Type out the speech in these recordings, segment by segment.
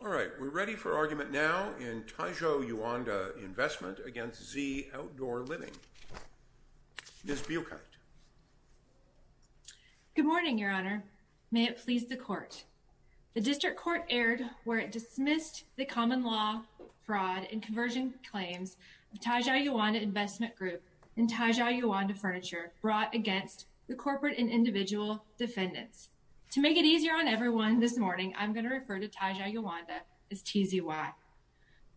All right, we're ready for argument now in Taizhou Yuanda Investment against Z Outdoor Living. Ms. Buechert. Good morning, your honor. May it please the court. The district court erred where it dismissed the common law fraud and conversion claims of Taizhou Yuanda Investment Group and Taizhou Yuanda Furniture brought against the corporate and individual defendants. To make it easier on everyone this morning, I'm going to refer to Taizhou Yuanda as TZY.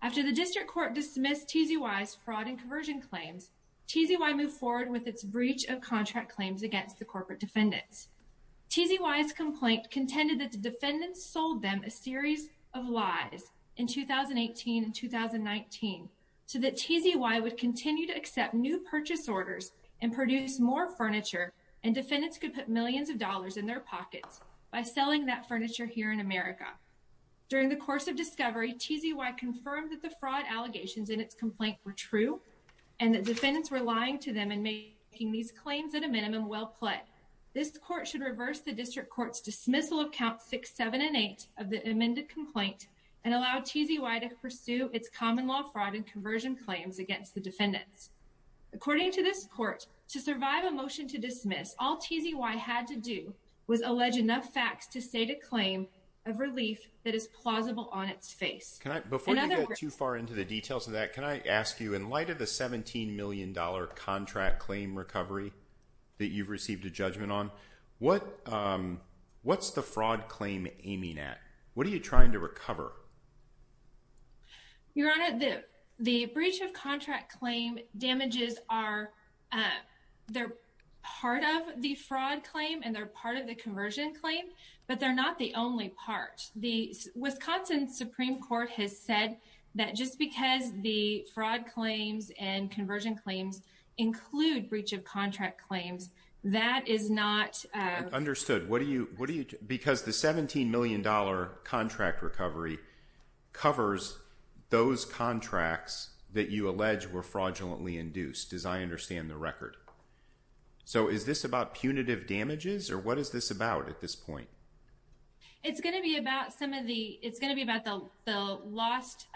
After the district court dismissed TZY's fraud and conversion claims, TZY moved forward with its breach of contract claims against the corporate defendants. TZY's complaint contended that the defendants sold them a series of lies in 2018 and 2019 so that TZY would continue to accept new purchase orders and produce more furniture and defendants could put millions of dollars in their pockets by selling that furniture here in America. During the course of discovery, TZY confirmed that the fraud allegations in its complaint were true and that defendants were lying to them and making these claims at a minimum well played. This court should reverse the district court's dismissal of count six, seven, and eight of the amended complaint and allow TZY to pursue its common law fraud and conversion claims against the defendants. According to this court, to survive a motion to dismiss, all TZY had to do was allege enough facts to state a claim of relief that is plausible on its face. Before you go too far into the details of that, can I ask you, in light of the 17 million dollar contract claim recovery that you've received a judgment on, what's the fraud claim aiming at? What are you trying to recover? Your honor, the breach of contract claim damages are, they're part of the fraud claim and they're part of the conversion claim, but they're not the only part. The Wisconsin Supreme Court has said that just because the fraud claims and conversion claims include breach of contract claims, that is not... Understood. What do you, what do you, because the 17 million dollar contract recovery covers those contracts that you allege were fraudulently induced, as I understand the record. So is this about punitive damages or what is this about at this point? It's going to be about some of the, it's going to be about the lost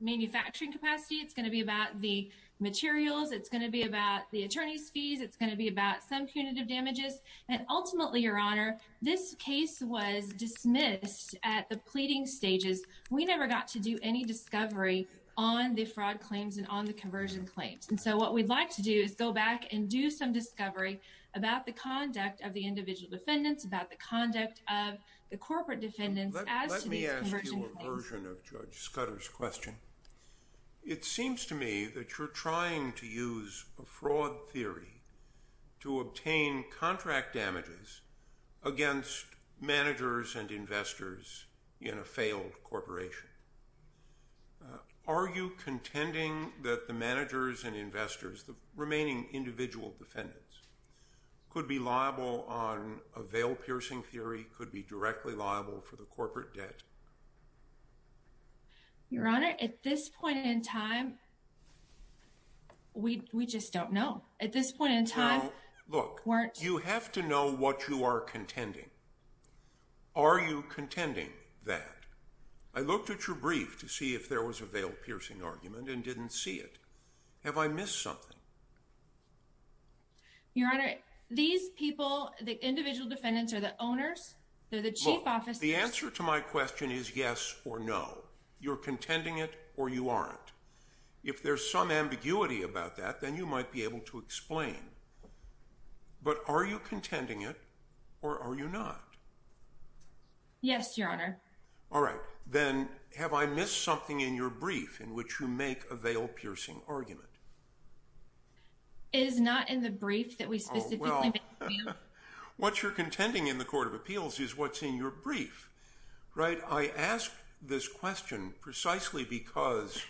manufacturing capacity, it's going to be about the materials, it's going to be about the attorney's fees, it's going to be about some punitive damages, and ultimately your honor, this case was dismissed at the pleading stages. We never got to do any discovery on the fraud claims and on the conversion claims. And so what we'd like to do is go back and do some discovery about the conduct of the individual defendants, about the conduct of the corporate defendants as to these conversion claims. Let me ask you a version of Judge Scudder's question. It seems to me that you're trying to use a fraud theory to obtain contract damages against managers and investors in a failed corporation. Are you contending that the managers and investors, the remaining individual defendants, could be liable on a veil-piercing theory, could be directly liable for the corporate debt? Your honor, at this point in time, we just don't know. At this point in time, look, you have to know what you are contending. Are you contending that? I looked at your brief to see if there was a veil-piercing argument and didn't see it. Have I missed something? Your honor, these people, the individual defendants are the owners, they're the chief officers. The answer to my question is yes or no. You're contending it or you aren't. If there's some ambiguity about that, then you might be able to explain. But are you contending it or are you not? Yes, your honor. All right, then have I missed something in your brief in which you make a veil-piercing argument? It is not in the brief that we specifically make a veil-piercing argument. What you're contending in the court of appeals is what's in your brief, right? I ask this question precisely because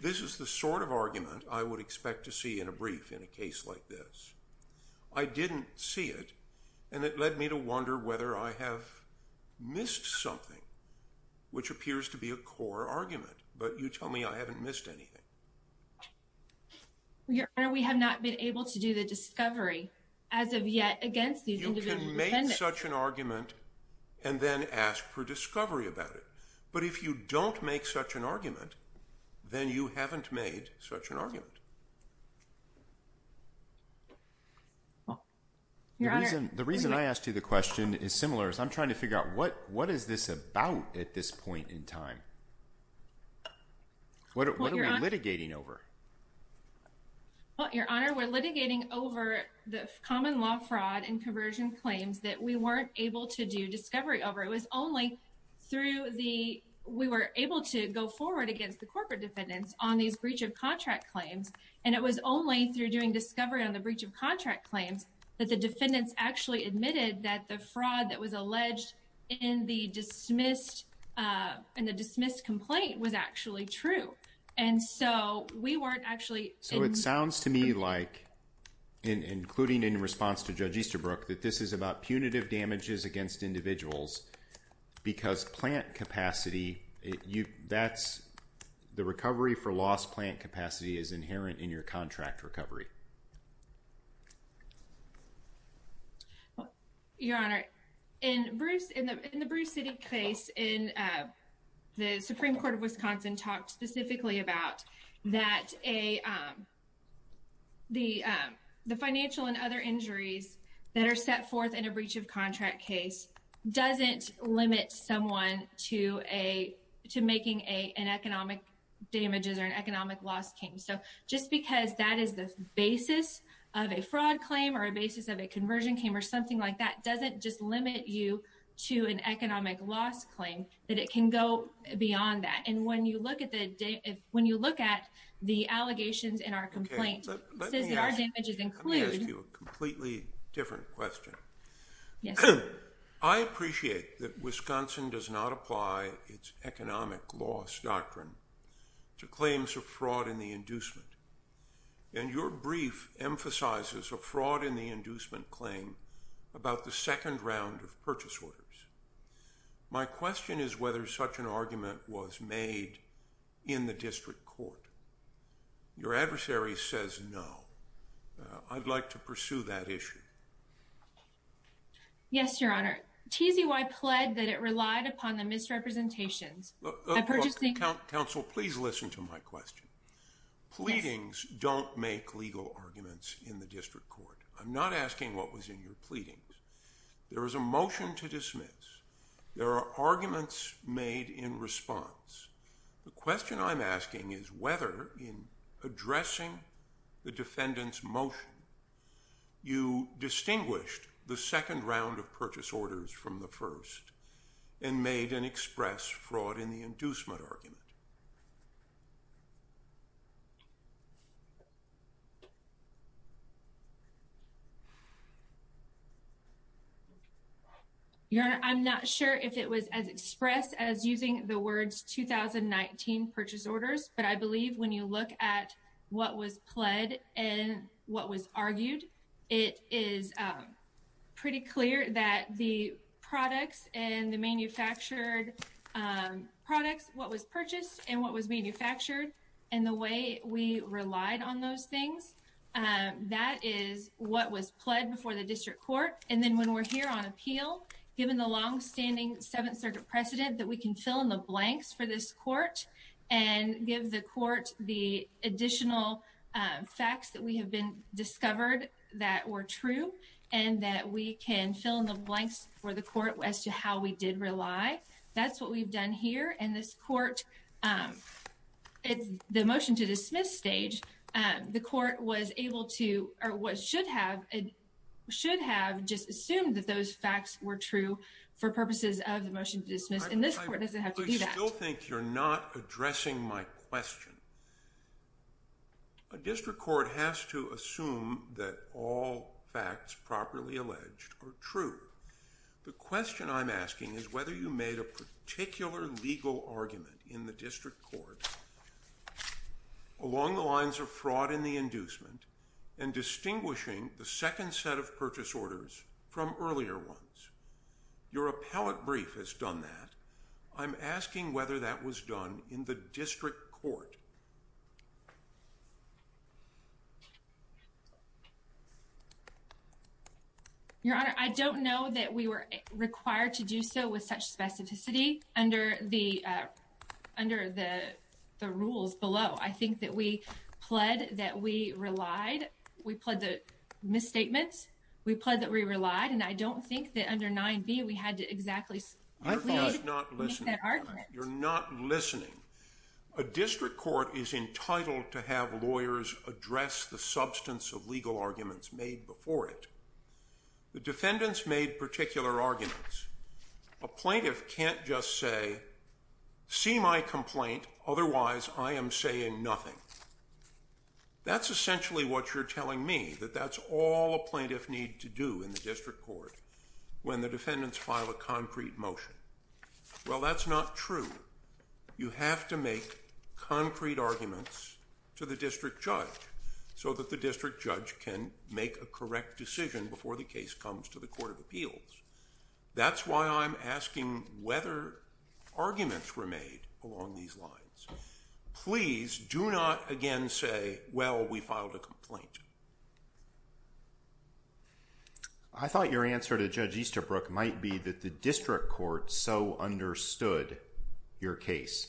this is the sort of argument I would expect to see in a brief in a case like this. I didn't see it and it led me to wonder whether I have missed something, which appears to be a core argument, but you tell me I haven't missed anything. Well, your honor, we have not been able to do the discovery as of yet against these individual defendants. You can make such an argument and then ask for discovery about it, but if you don't make such an argument, then you haven't made such an argument. The reason I asked you the question is similar as I'm trying to figure out what is this about at this point in time. What are we litigating over? Well, your honor, we're litigating over the common law fraud and conversion claims that we weren't able to do discovery over. It was only through the, we were able to go forward against the corporate defendants on these breach of contract claims, and it was only through doing discovery on the breach of contract claims that the defendants actually admitted that the fraud that was alleged in the dismissed complaint was actually true. And so we weren't actually... So it sounds to me like, including in response to Judge Easterbrook, that this is about punitive damages against individuals because plant capacity, the recovery for lost plant capacity is inherent in your contract recovery. Well, your honor, in the Bruce City case, the Supreme Court of Wisconsin talked specifically about that the financial and other injuries that are set forth in a breach of contract case doesn't limit someone to making an economic damages or an economic loss came. So just because that is the basis of a fraud claim or a basis of a conversion came or something like that, doesn't just limit you to an economic loss claim that it can go beyond that. And when you look at the allegations in our complaint, it says that our damages include... Let me ask you a completely different question. I appreciate that Wisconsin does not apply its economic loss doctrine to claims of fraud in inducement. And your brief emphasizes a fraud in the inducement claim about the second round of purchase orders. My question is whether such an argument was made in the district court. Your adversary says no. I'd like to pursue that issue. Yes, your honor. TZY pled that it relied upon the misrepresentations. Look, counsel, please listen to my question. Pleadings don't make legal arguments in the district court. I'm not asking what was in your pleadings. There was a motion to dismiss. There are arguments made in response. The question I'm asking is whether in addressing the defendant's motion, you distinguished the second round of purchase orders from the first and made an express fraud in the inducement argument. Your honor, I'm not sure if it was as expressed as using the words 2019 purchase orders, but I believe when you look at what was pled and what was argued, it is pretty clear that the manufactured products, what was purchased and what was manufactured and the way we relied on those things, that is what was pled before the district court. And then when we're here on appeal, given the longstanding seventh circuit precedent that we can fill in the blanks for this court and give the court the additional facts that we have been discovered that were true and that we can fill in the blanks for the court as to how we did rely, that's what we've done here in this court. It's the motion to dismiss stage. The court was able to or should have just assumed that those facts were true for purposes of the motion to dismiss. And this court doesn't have to do that. I still think you're not addressing my question. A district court has to assume that all facts properly alleged are true. The question I'm asking is whether you made a particular legal argument in the district court along the lines of fraud in the inducement and distinguishing the second set of purchase orders from earlier ones. Your appellate brief has done that. I'm asking whether that was done in the district court. Your honor, I don't know that we were required to do so with such specificity under the under the the rules below. I think that we pled that we relied. We pled the misstatements. We pled that we relied and I don't think that under 9b we had to exactly make that argument. You're not listening. A district court is entitled to have lawyers address the substance of legal arguments made before it. The defendants made particular arguments. A plaintiff can't just say see my complaint otherwise I am saying nothing. That's essentially what you're telling me that that's all a plaintiff need to do in the district court when the defendants file a concrete motion. Well that's not true. You have to make concrete arguments to the district judge so that the make a correct decision before the case comes to the court of appeals. That's why I'm asking whether arguments were made along these lines. Please do not again say well we filed a complaint. I thought your answer to Judge Easterbrook might be that the district court so understood your case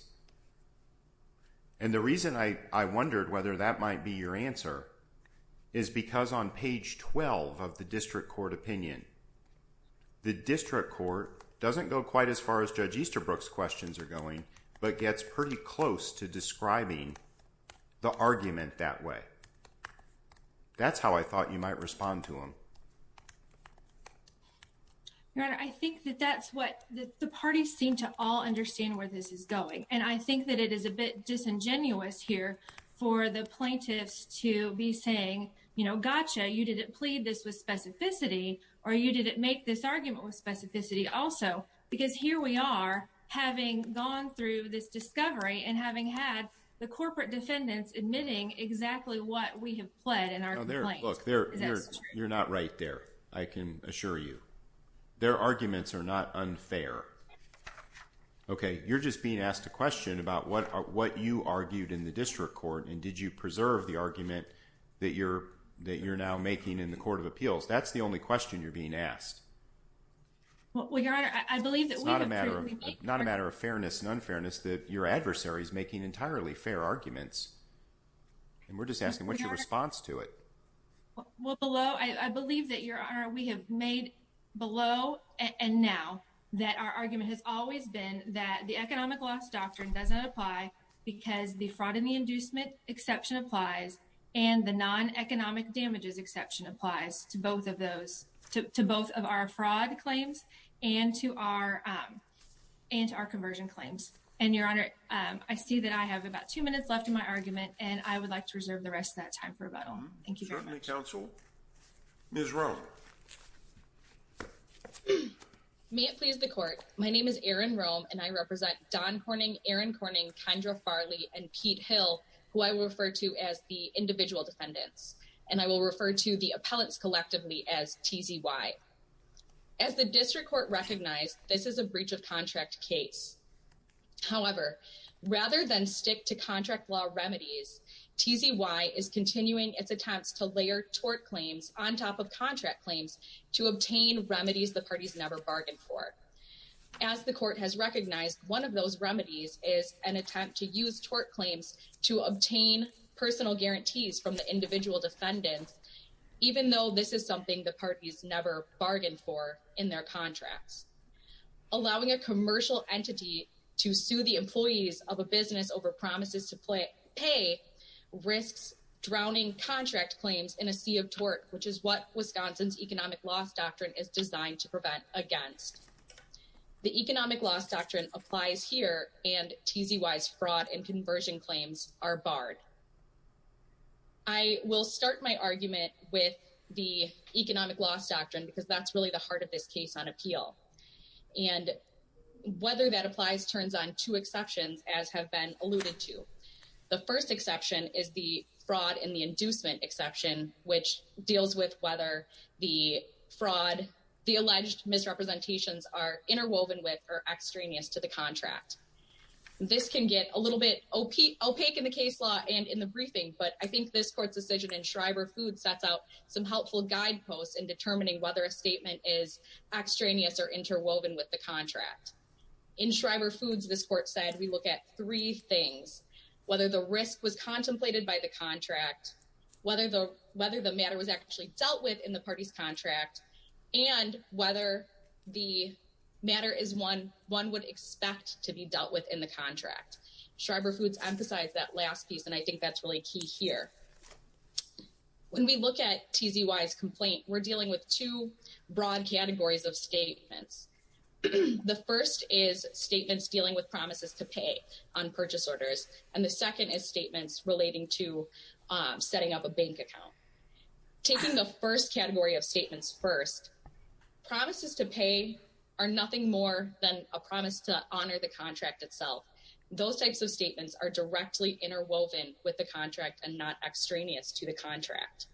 and the reason I I wondered whether that might be your answer is because on page 12 of the district court opinion the district court doesn't go quite as far as Judge Easterbrook's questions are going but gets pretty close to describing the argument that way. That's how I thought you might respond to him. Your honor I think that that's what the parties seem to all understand where this is going. I think that it is a bit disingenuous here for the plaintiffs to be saying you know gotcha you didn't plead this with specificity or you didn't make this argument with specificity also because here we are having gone through this discovery and having had the corporate defendants admitting exactly what we have pled in our complaint. You're not right there I can assure you. Their arguments are not unfair. Okay you're just being asked a question about what are what you argued in the district court and did you preserve the argument that you're that you're now making in the court of appeals that's the only question you're being asked. Well your honor I believe that it's not a matter of not a matter of fairness and unfairness that your adversary is making entirely fair arguments and we're just asking what's your response to it. Well below I believe that your honor we have made below and now that our argument has always been that the economic loss doctrine doesn't apply because the fraud and the inducement exception applies and the non-economic damages exception applies to both of those to both of our fraud claims and to our um and our conversion claims and your honor um I see that I have about two minutes left in my argument and I counsel Ms. Rome. May it please the court my name is Erin Rome and I represent Don Corning, Aaron Corning, Kendra Farley, and Pete Hill who I refer to as the individual defendants and I will refer to the appellants collectively as TZY. As the district court recognized this is a breach of contract case however rather than stick to contract law remedies TZY is continuing its attempts to layer tort claims on top of contract claims to obtain remedies the parties never bargained for. As the court has recognized one of those remedies is an attempt to use tort claims to obtain personal guarantees from the individual defendants even though this is something the parties never bargained for in their contracts. Allowing a commercial entity to sue the employees of a which is what Wisconsin's economic loss doctrine is designed to prevent against. The economic loss doctrine applies here and TZY's fraud and conversion claims are barred. I will start my argument with the economic loss doctrine because that's really the heart of this case on appeal and whether that applies turns on two exceptions as have been alluded to. The first exception is the fraud and the inducement exception which deals with whether the fraud the alleged misrepresentations are interwoven with or extraneous to the contract. This can get a little bit opaque in the case law and in the briefing but I think this court's decision in Shriver Foods sets out some helpful guideposts in determining whether a statement is extraneous or interwoven with the contract. In Shriver Foods this court said we look at three things whether the risk was contemplated by the contract, whether the matter was actually dealt with in the party's contract, and whether the matter is one one would expect to be dealt with in the contract. Shriver Foods emphasized that last piece and I think that's really key here. When we look at TZY's complaint we're dealing with two broad categories of statements. The first is statements dealing with promises to pay on purchase orders and the second is statements relating to setting up a bank account. Taking the first category of statements first, promises to pay are nothing more than a promise to honor the contract itself. Those types of statements are directly interwoven with the contract and not extraneous to the contract.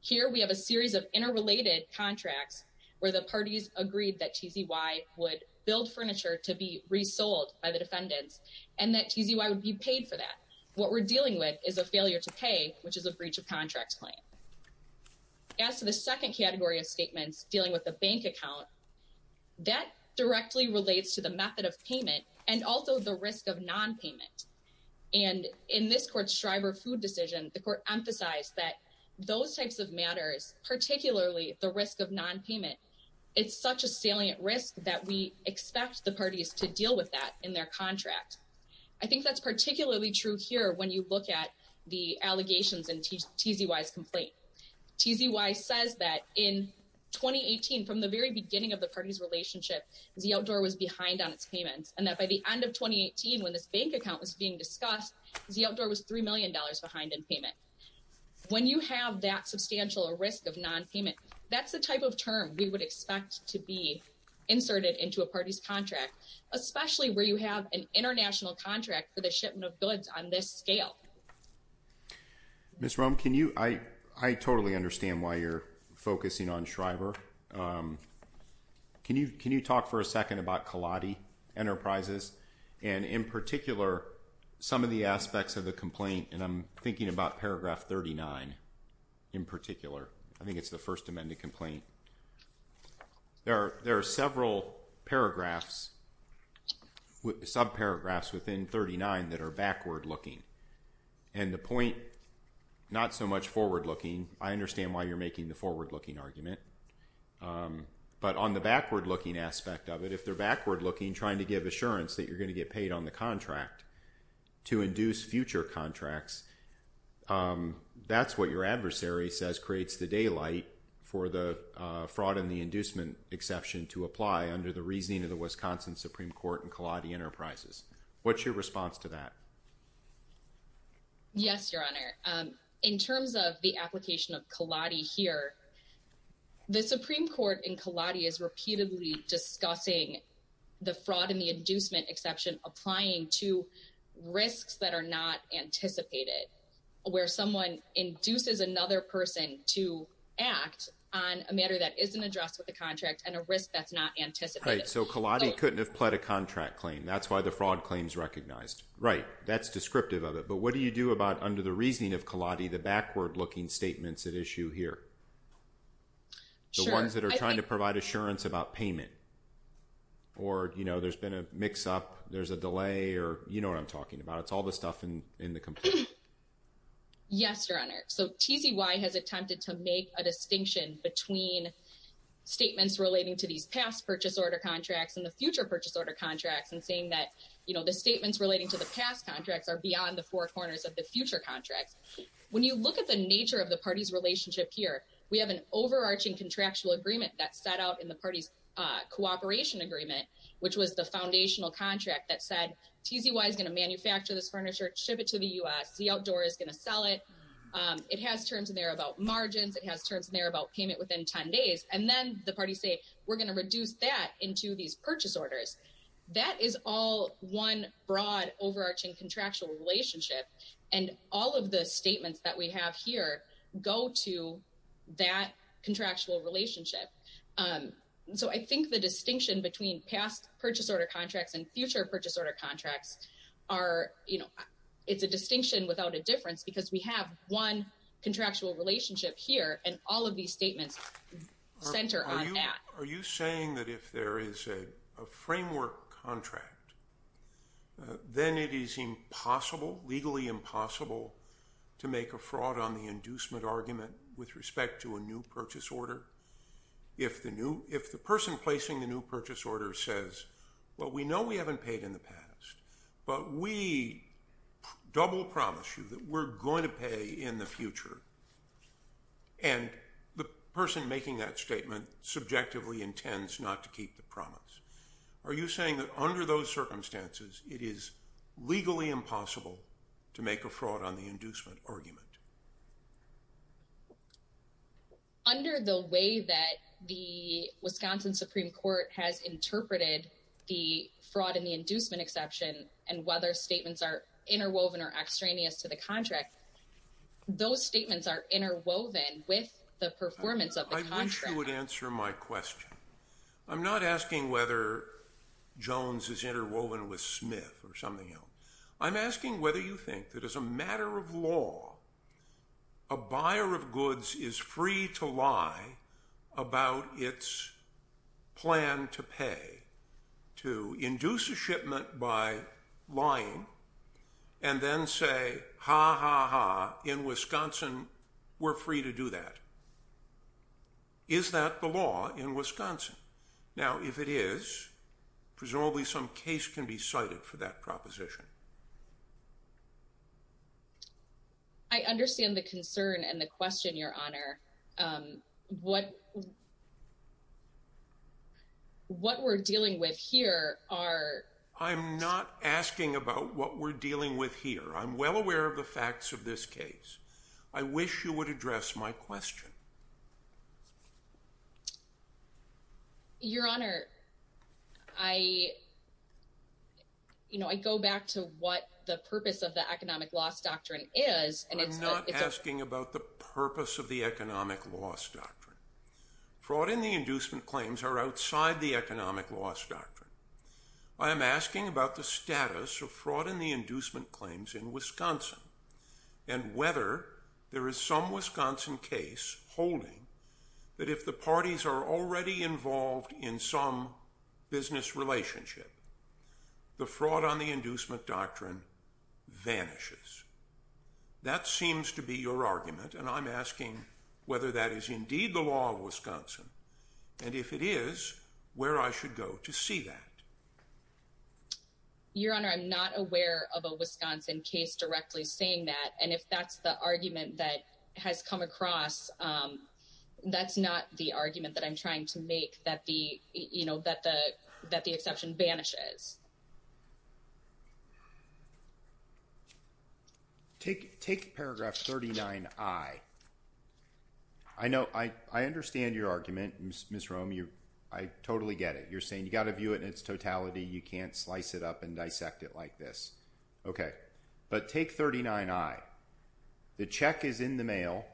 Here we have a series of interrelated contracts where the parties agreed that TZY would build furniture to be resold by the defendants and that TZY would be paid for that. What we're dealing with is a failure to pay which is a breach of contract claim. As to the second category of statements dealing with the bank account, that directly relates to the method of payment and also the those types of matters particularly the risk of non-payment. It's such a salient risk that we expect the parties to deal with that in their contract. I think that's particularly true here when you look at the allegations in TZY's complaint. TZY says that in 2018 from the very beginning of the party's relationship Z Outdoor was behind on its payments and that by the end of 2018 when this bank account was being discussed Z Outdoor was three million dollars behind in when you have that substantial risk of non-payment. That's the type of term we would expect to be inserted into a party's contract especially where you have an international contract for the shipment of goods on this scale. Ms. Roem can you, I totally understand why you're focusing on Shriver. Can you talk for a second about Kaladi Enterprises and in particular some of the aspects of the complaint and I'm thinking about paragraph 39 in particular. I think it's the first amended complaint. There are several paragraphs sub-paragraphs within 39 that are backward looking and the point not so much forward looking. I understand why you're making the forward looking argument but on the backward looking aspect of it they're backward looking trying to give assurance that you're going to get paid on the contract to induce future contracts. That's what your adversary says creates the daylight for the fraud and the inducement exception to apply under the reasoning of the Wisconsin Supreme Court and Kaladi Enterprises. What's your response to that? Yes your honor. In terms of the the fraud and the inducement exception applying to risks that are not anticipated where someone induces another person to act on a matter that isn't addressed with the contract and a risk that's not anticipated. Right so Kaladi couldn't have pled a contract claim that's why the fraud claim is recognized. Right that's descriptive of it but what do you do about under the reasoning of Kaladi the backward looking statements at issue here? The ones that are trying to provide assurance about payment or you know there's been a mix up there's a delay or you know what I'm talking about it's all the stuff in in the complaint. Yes your honor. So TZY has attempted to make a distinction between statements relating to these past purchase order contracts and the future purchase order contracts and saying that you know the statements relating to the past contracts are beyond the four corners of the future contracts. When you look at the nature of the party's relationship here we have an overarching contractual agreement that set out in the party's cooperation agreement which was the foundational contract that said TZY is going to manufacture this furniture ship it to the U.S. The outdoor is going to sell it. It has terms in there about margins it has terms in there about payment within 10 days and then the party say we're going to reduce that into these purchase orders. That is all one broad overarching contractual relationship and all of the statements that we have here go to that contractual relationship. So I think the distinction between past purchase order contracts and future purchase order contracts are you know it's a distinction without a difference because we have one contractual relationship here and all of these statements center on that. Are you saying that if there is a framework contract then it is impossible legally impossible to make a fraud on the inducement argument with respect to a new purchase order? If the new if the person placing the new purchase order says well we know we haven't paid in the past but we double promise you that we're going to pay in the future and the person making that statement subjectively intends not to keep the promise. Are you saying that under those circumstances it is legally impossible to make a fraud on the inducement argument? Under the way that the Wisconsin Supreme Court has interpreted the fraud in the inducement exception and whether statements are interwoven or extraneous to the contract those statements are interwoven with the performance of the contract. I wish you would answer my question. I'm not asking whether Jones is interwoven with Smith or something else. I'm asking whether you think that as a matter of law a buyer of goods is free to lie about its plan to pay to induce a shipment by lying and then say ha ha ha in Wisconsin we're free to do that. Is that the law in Wisconsin? Now if it is presumably some case can be cited for that proposition. I understand the concern and the question your honor. What what we're dealing with here are. I'm not asking about what we're dealing with here. I'm well aware of the facts of this case. I wish you would address my question. Your honor I you know I go back to what the purpose of the economic loss doctrine is. I'm not asking about the purpose of the economic loss doctrine. Fraud in the inducement claims are outside the economic loss doctrine. I am asking about the status of fraud in the inducement claims in Wisconsin and whether there is some Wisconsin case holding that if the parties are already involved in some business relationship the fraud on the inducement doctrine vanishes. That seems to be your argument and I'm asking whether that is indeed the law of Wisconsin and if it is where I should go to see that. Your honor I'm not aware of a Wisconsin case directly saying that and if that's the argument that has come across that's not the argument that I'm trying to make that the you know that the that the exception banishes. Take paragraph 39i. I know I understand your argument Ms. Roem. I totally get it. You're saying you got to view it in its totality. You can't slice it up and dissect it like this. Okay but take 39i. The check is in the mail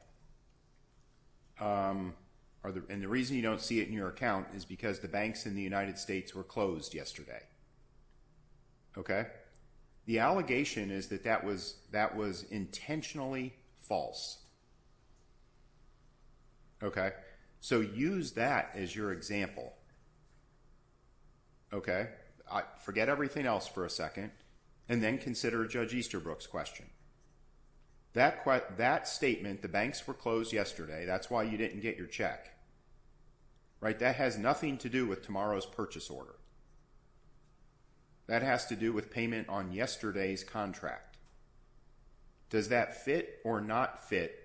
and the reason you don't see it in your account is because the banks in the United States were closed yesterday. Okay the allegation is that that was that was intentionally false. Okay so use that as your example. Okay I forget everything else for a second and then consider Judge Easterbrook's question. That statement the banks were closed yesterday that's why you didn't get your check. Right that has nothing to do with tomorrow's purchase order. That has to do with payment on yesterday's contract. Does that fit or not fit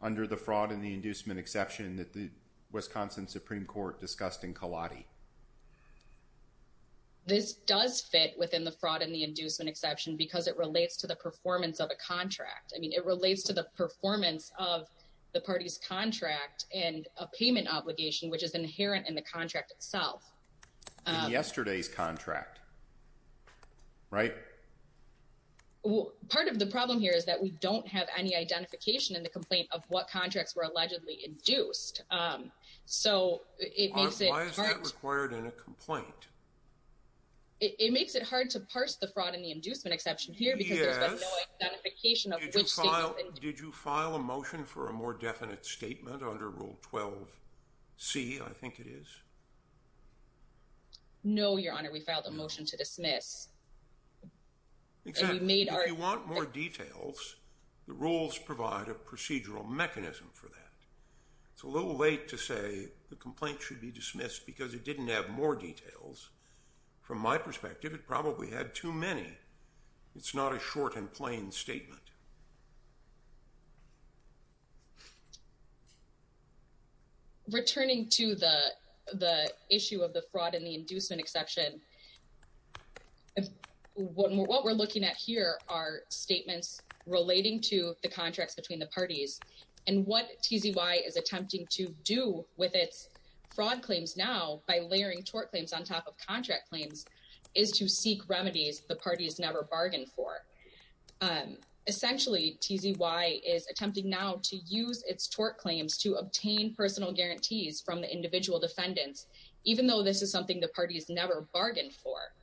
under the fraud and the inducement exception that the Wisconsin Supreme Court discussed in Kaladi? This does fit within the fraud and the inducement exception because it relates to the performance of a contract. I mean it relates to the performance of the party's contract and a payment obligation which is inherent in the contract itself. In yesterday's contract right? Part of the problem here is that we don't have any identification in the complaint of what contracts were allegedly induced. So it makes it hard. Why is that required in a complaint? It makes it hard to parse the fraud and the inducement exception here. Did you file a motion for a more definite statement under rule 12? C I think it is. No your honor we filed a motion to dismiss. If you want more details the rules provide a procedural mechanism for that. It's a little late to say the complaint should be dismissed because it didn't have more details. From my perspective it probably had too many. It's not a short and plain statement. Returning to the the issue of the fraud and the inducement exception what we're looking at here are statements relating to the contracts between the parties and what TZY is attempting to do with its fraud claims now by layering tort claims on top of contract claims is to seek remedies the TZY is attempting now to use its tort claims to obtain personal guarantees from the individual defendants even though this is something the party has never bargained for.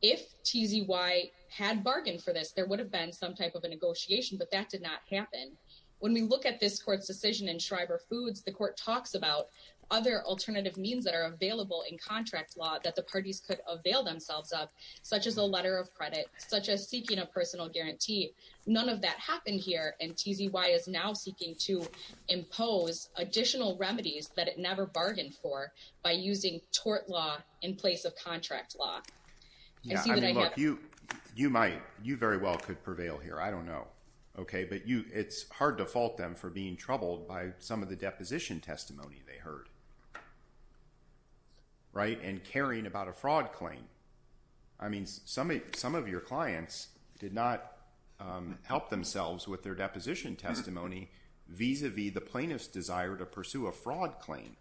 If TZY had bargained for this there would have been some type of a negotiation but that did not happen. When we look at this court's decision in Schreiber Foods the court talks about other alternative means that are available in contract law that the parties could avail themselves of such as a letter of that happened here and TZY is now seeking to impose additional remedies that it never bargained for by using tort law in place of contract law. You might you very well could prevail here I don't know okay but you it's hard to fault them for being troubled by some of the deposition testimony they heard right and caring about a fraud claim. I mean some of your clients did not help themselves with their deposition testimony vis-a-vis the plaintiff's desire to pursue a fraud claim.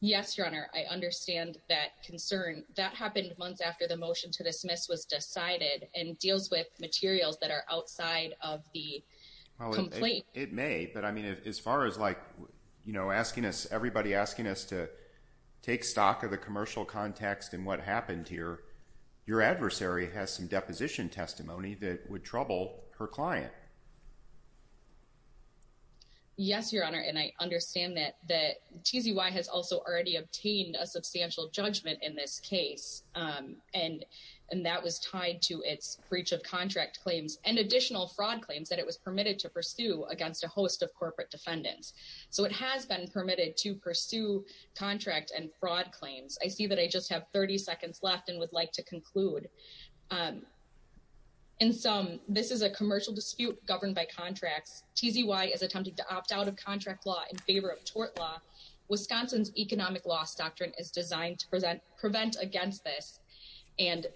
Yes your honor I understand that concern that happened months after the motion to dismiss was decided and deals with materials that are outside of the complaint. It may but I mean as far as like you know asking us everybody asking us to take stock of the commercial context and what happened here your adversary has some deposition testimony that would trouble her client. Yes your honor and I understand that that TZY has also already obtained a substantial judgment in this case and that was tied to its breach of contract claims and additional fraud claims that it was permitted to pursue against a host of corporate defendants. So it has been permitted to pursue contract and fraud claims. I see that I just have 30 seconds left and would like to conclude. In sum this is a commercial dispute governed by contracts. TZY is attempting to opt out of contract law in favor of tort law. Wisconsin's economic loss doctrine is designed to prevent against this and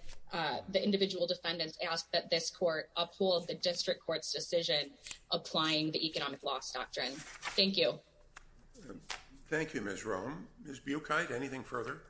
the individual defendants ask that this court uphold the district court's decision applying the economic loss doctrine. Thank you. Thank you Ms. Rhone. Ms. Bukite anything further?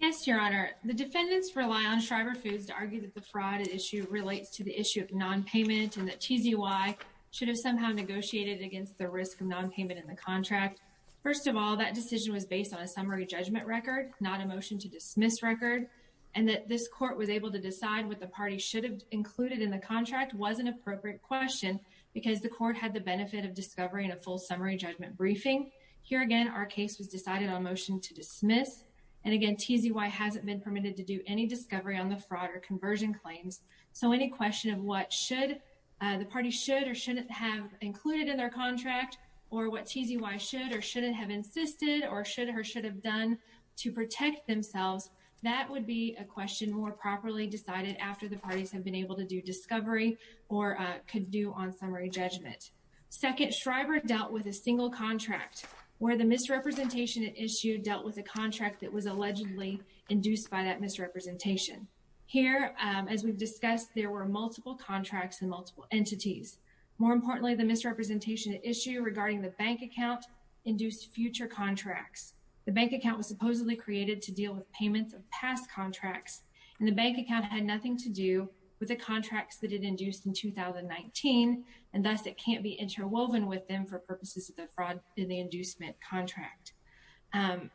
Yes your honor the defendants rely on Shriver Foods to argue that the fraud issue relates to the issue of non-payment and that TZY should have somehow negotiated against the risk of non-payment in the contract. First of all that decision was based on a summary judgment record not a motion to dismiss record and that this court was able to decide what the party should have included in the contract was an appropriate question because the court had the benefit of discovering a full summary judgment briefing. Here again our case was decided on motion to dismiss and again TZY hasn't been permitted to do any discovery on the fraud or conversion claims. So any question of what should the party should or shouldn't have included in their contract or what TZY should or shouldn't have insisted or should or should have done to protect themselves that would be a question more properly decided after the parties have been able to do discovery or could do on summary judgment. Second Shriver dealt with a single contract where the misrepresentation issue dealt with a contract that was allegedly induced by that misrepresentation. Here as we've discussed there were multiple contracts and multiple entities. More importantly the misrepresentation issue regarding the bank account induced future contracts. The bank account was supposedly created to deal with payments of past contracts and the bank account had nothing to do with the contracts that it induced in 2019 and thus it can't be interwoven with them for purposes of the fraud in the inducement contract.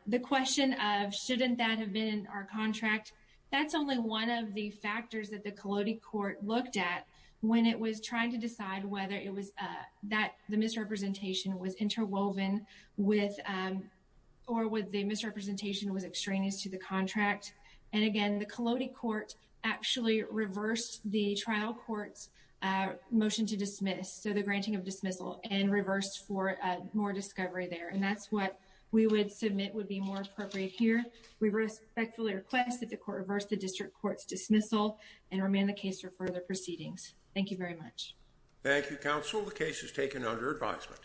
The question of shouldn't that have been in our contract that's only one of the factors that the Collodi court looked at when it was trying to decide whether it was that the misrepresentation was interwoven with or with the misrepresentation was extraneous to the contract and again the Collodi court actually reversed the trial court's motion to dismiss so the granting of dismissal and reversed for more discovery there and that's what we would submit would be more appropriate here. We respectfully request that the court reverse the district court's dismissal and remain the case for further proceedings. Thank you very much. Thank you counsel the case is taken under advisement.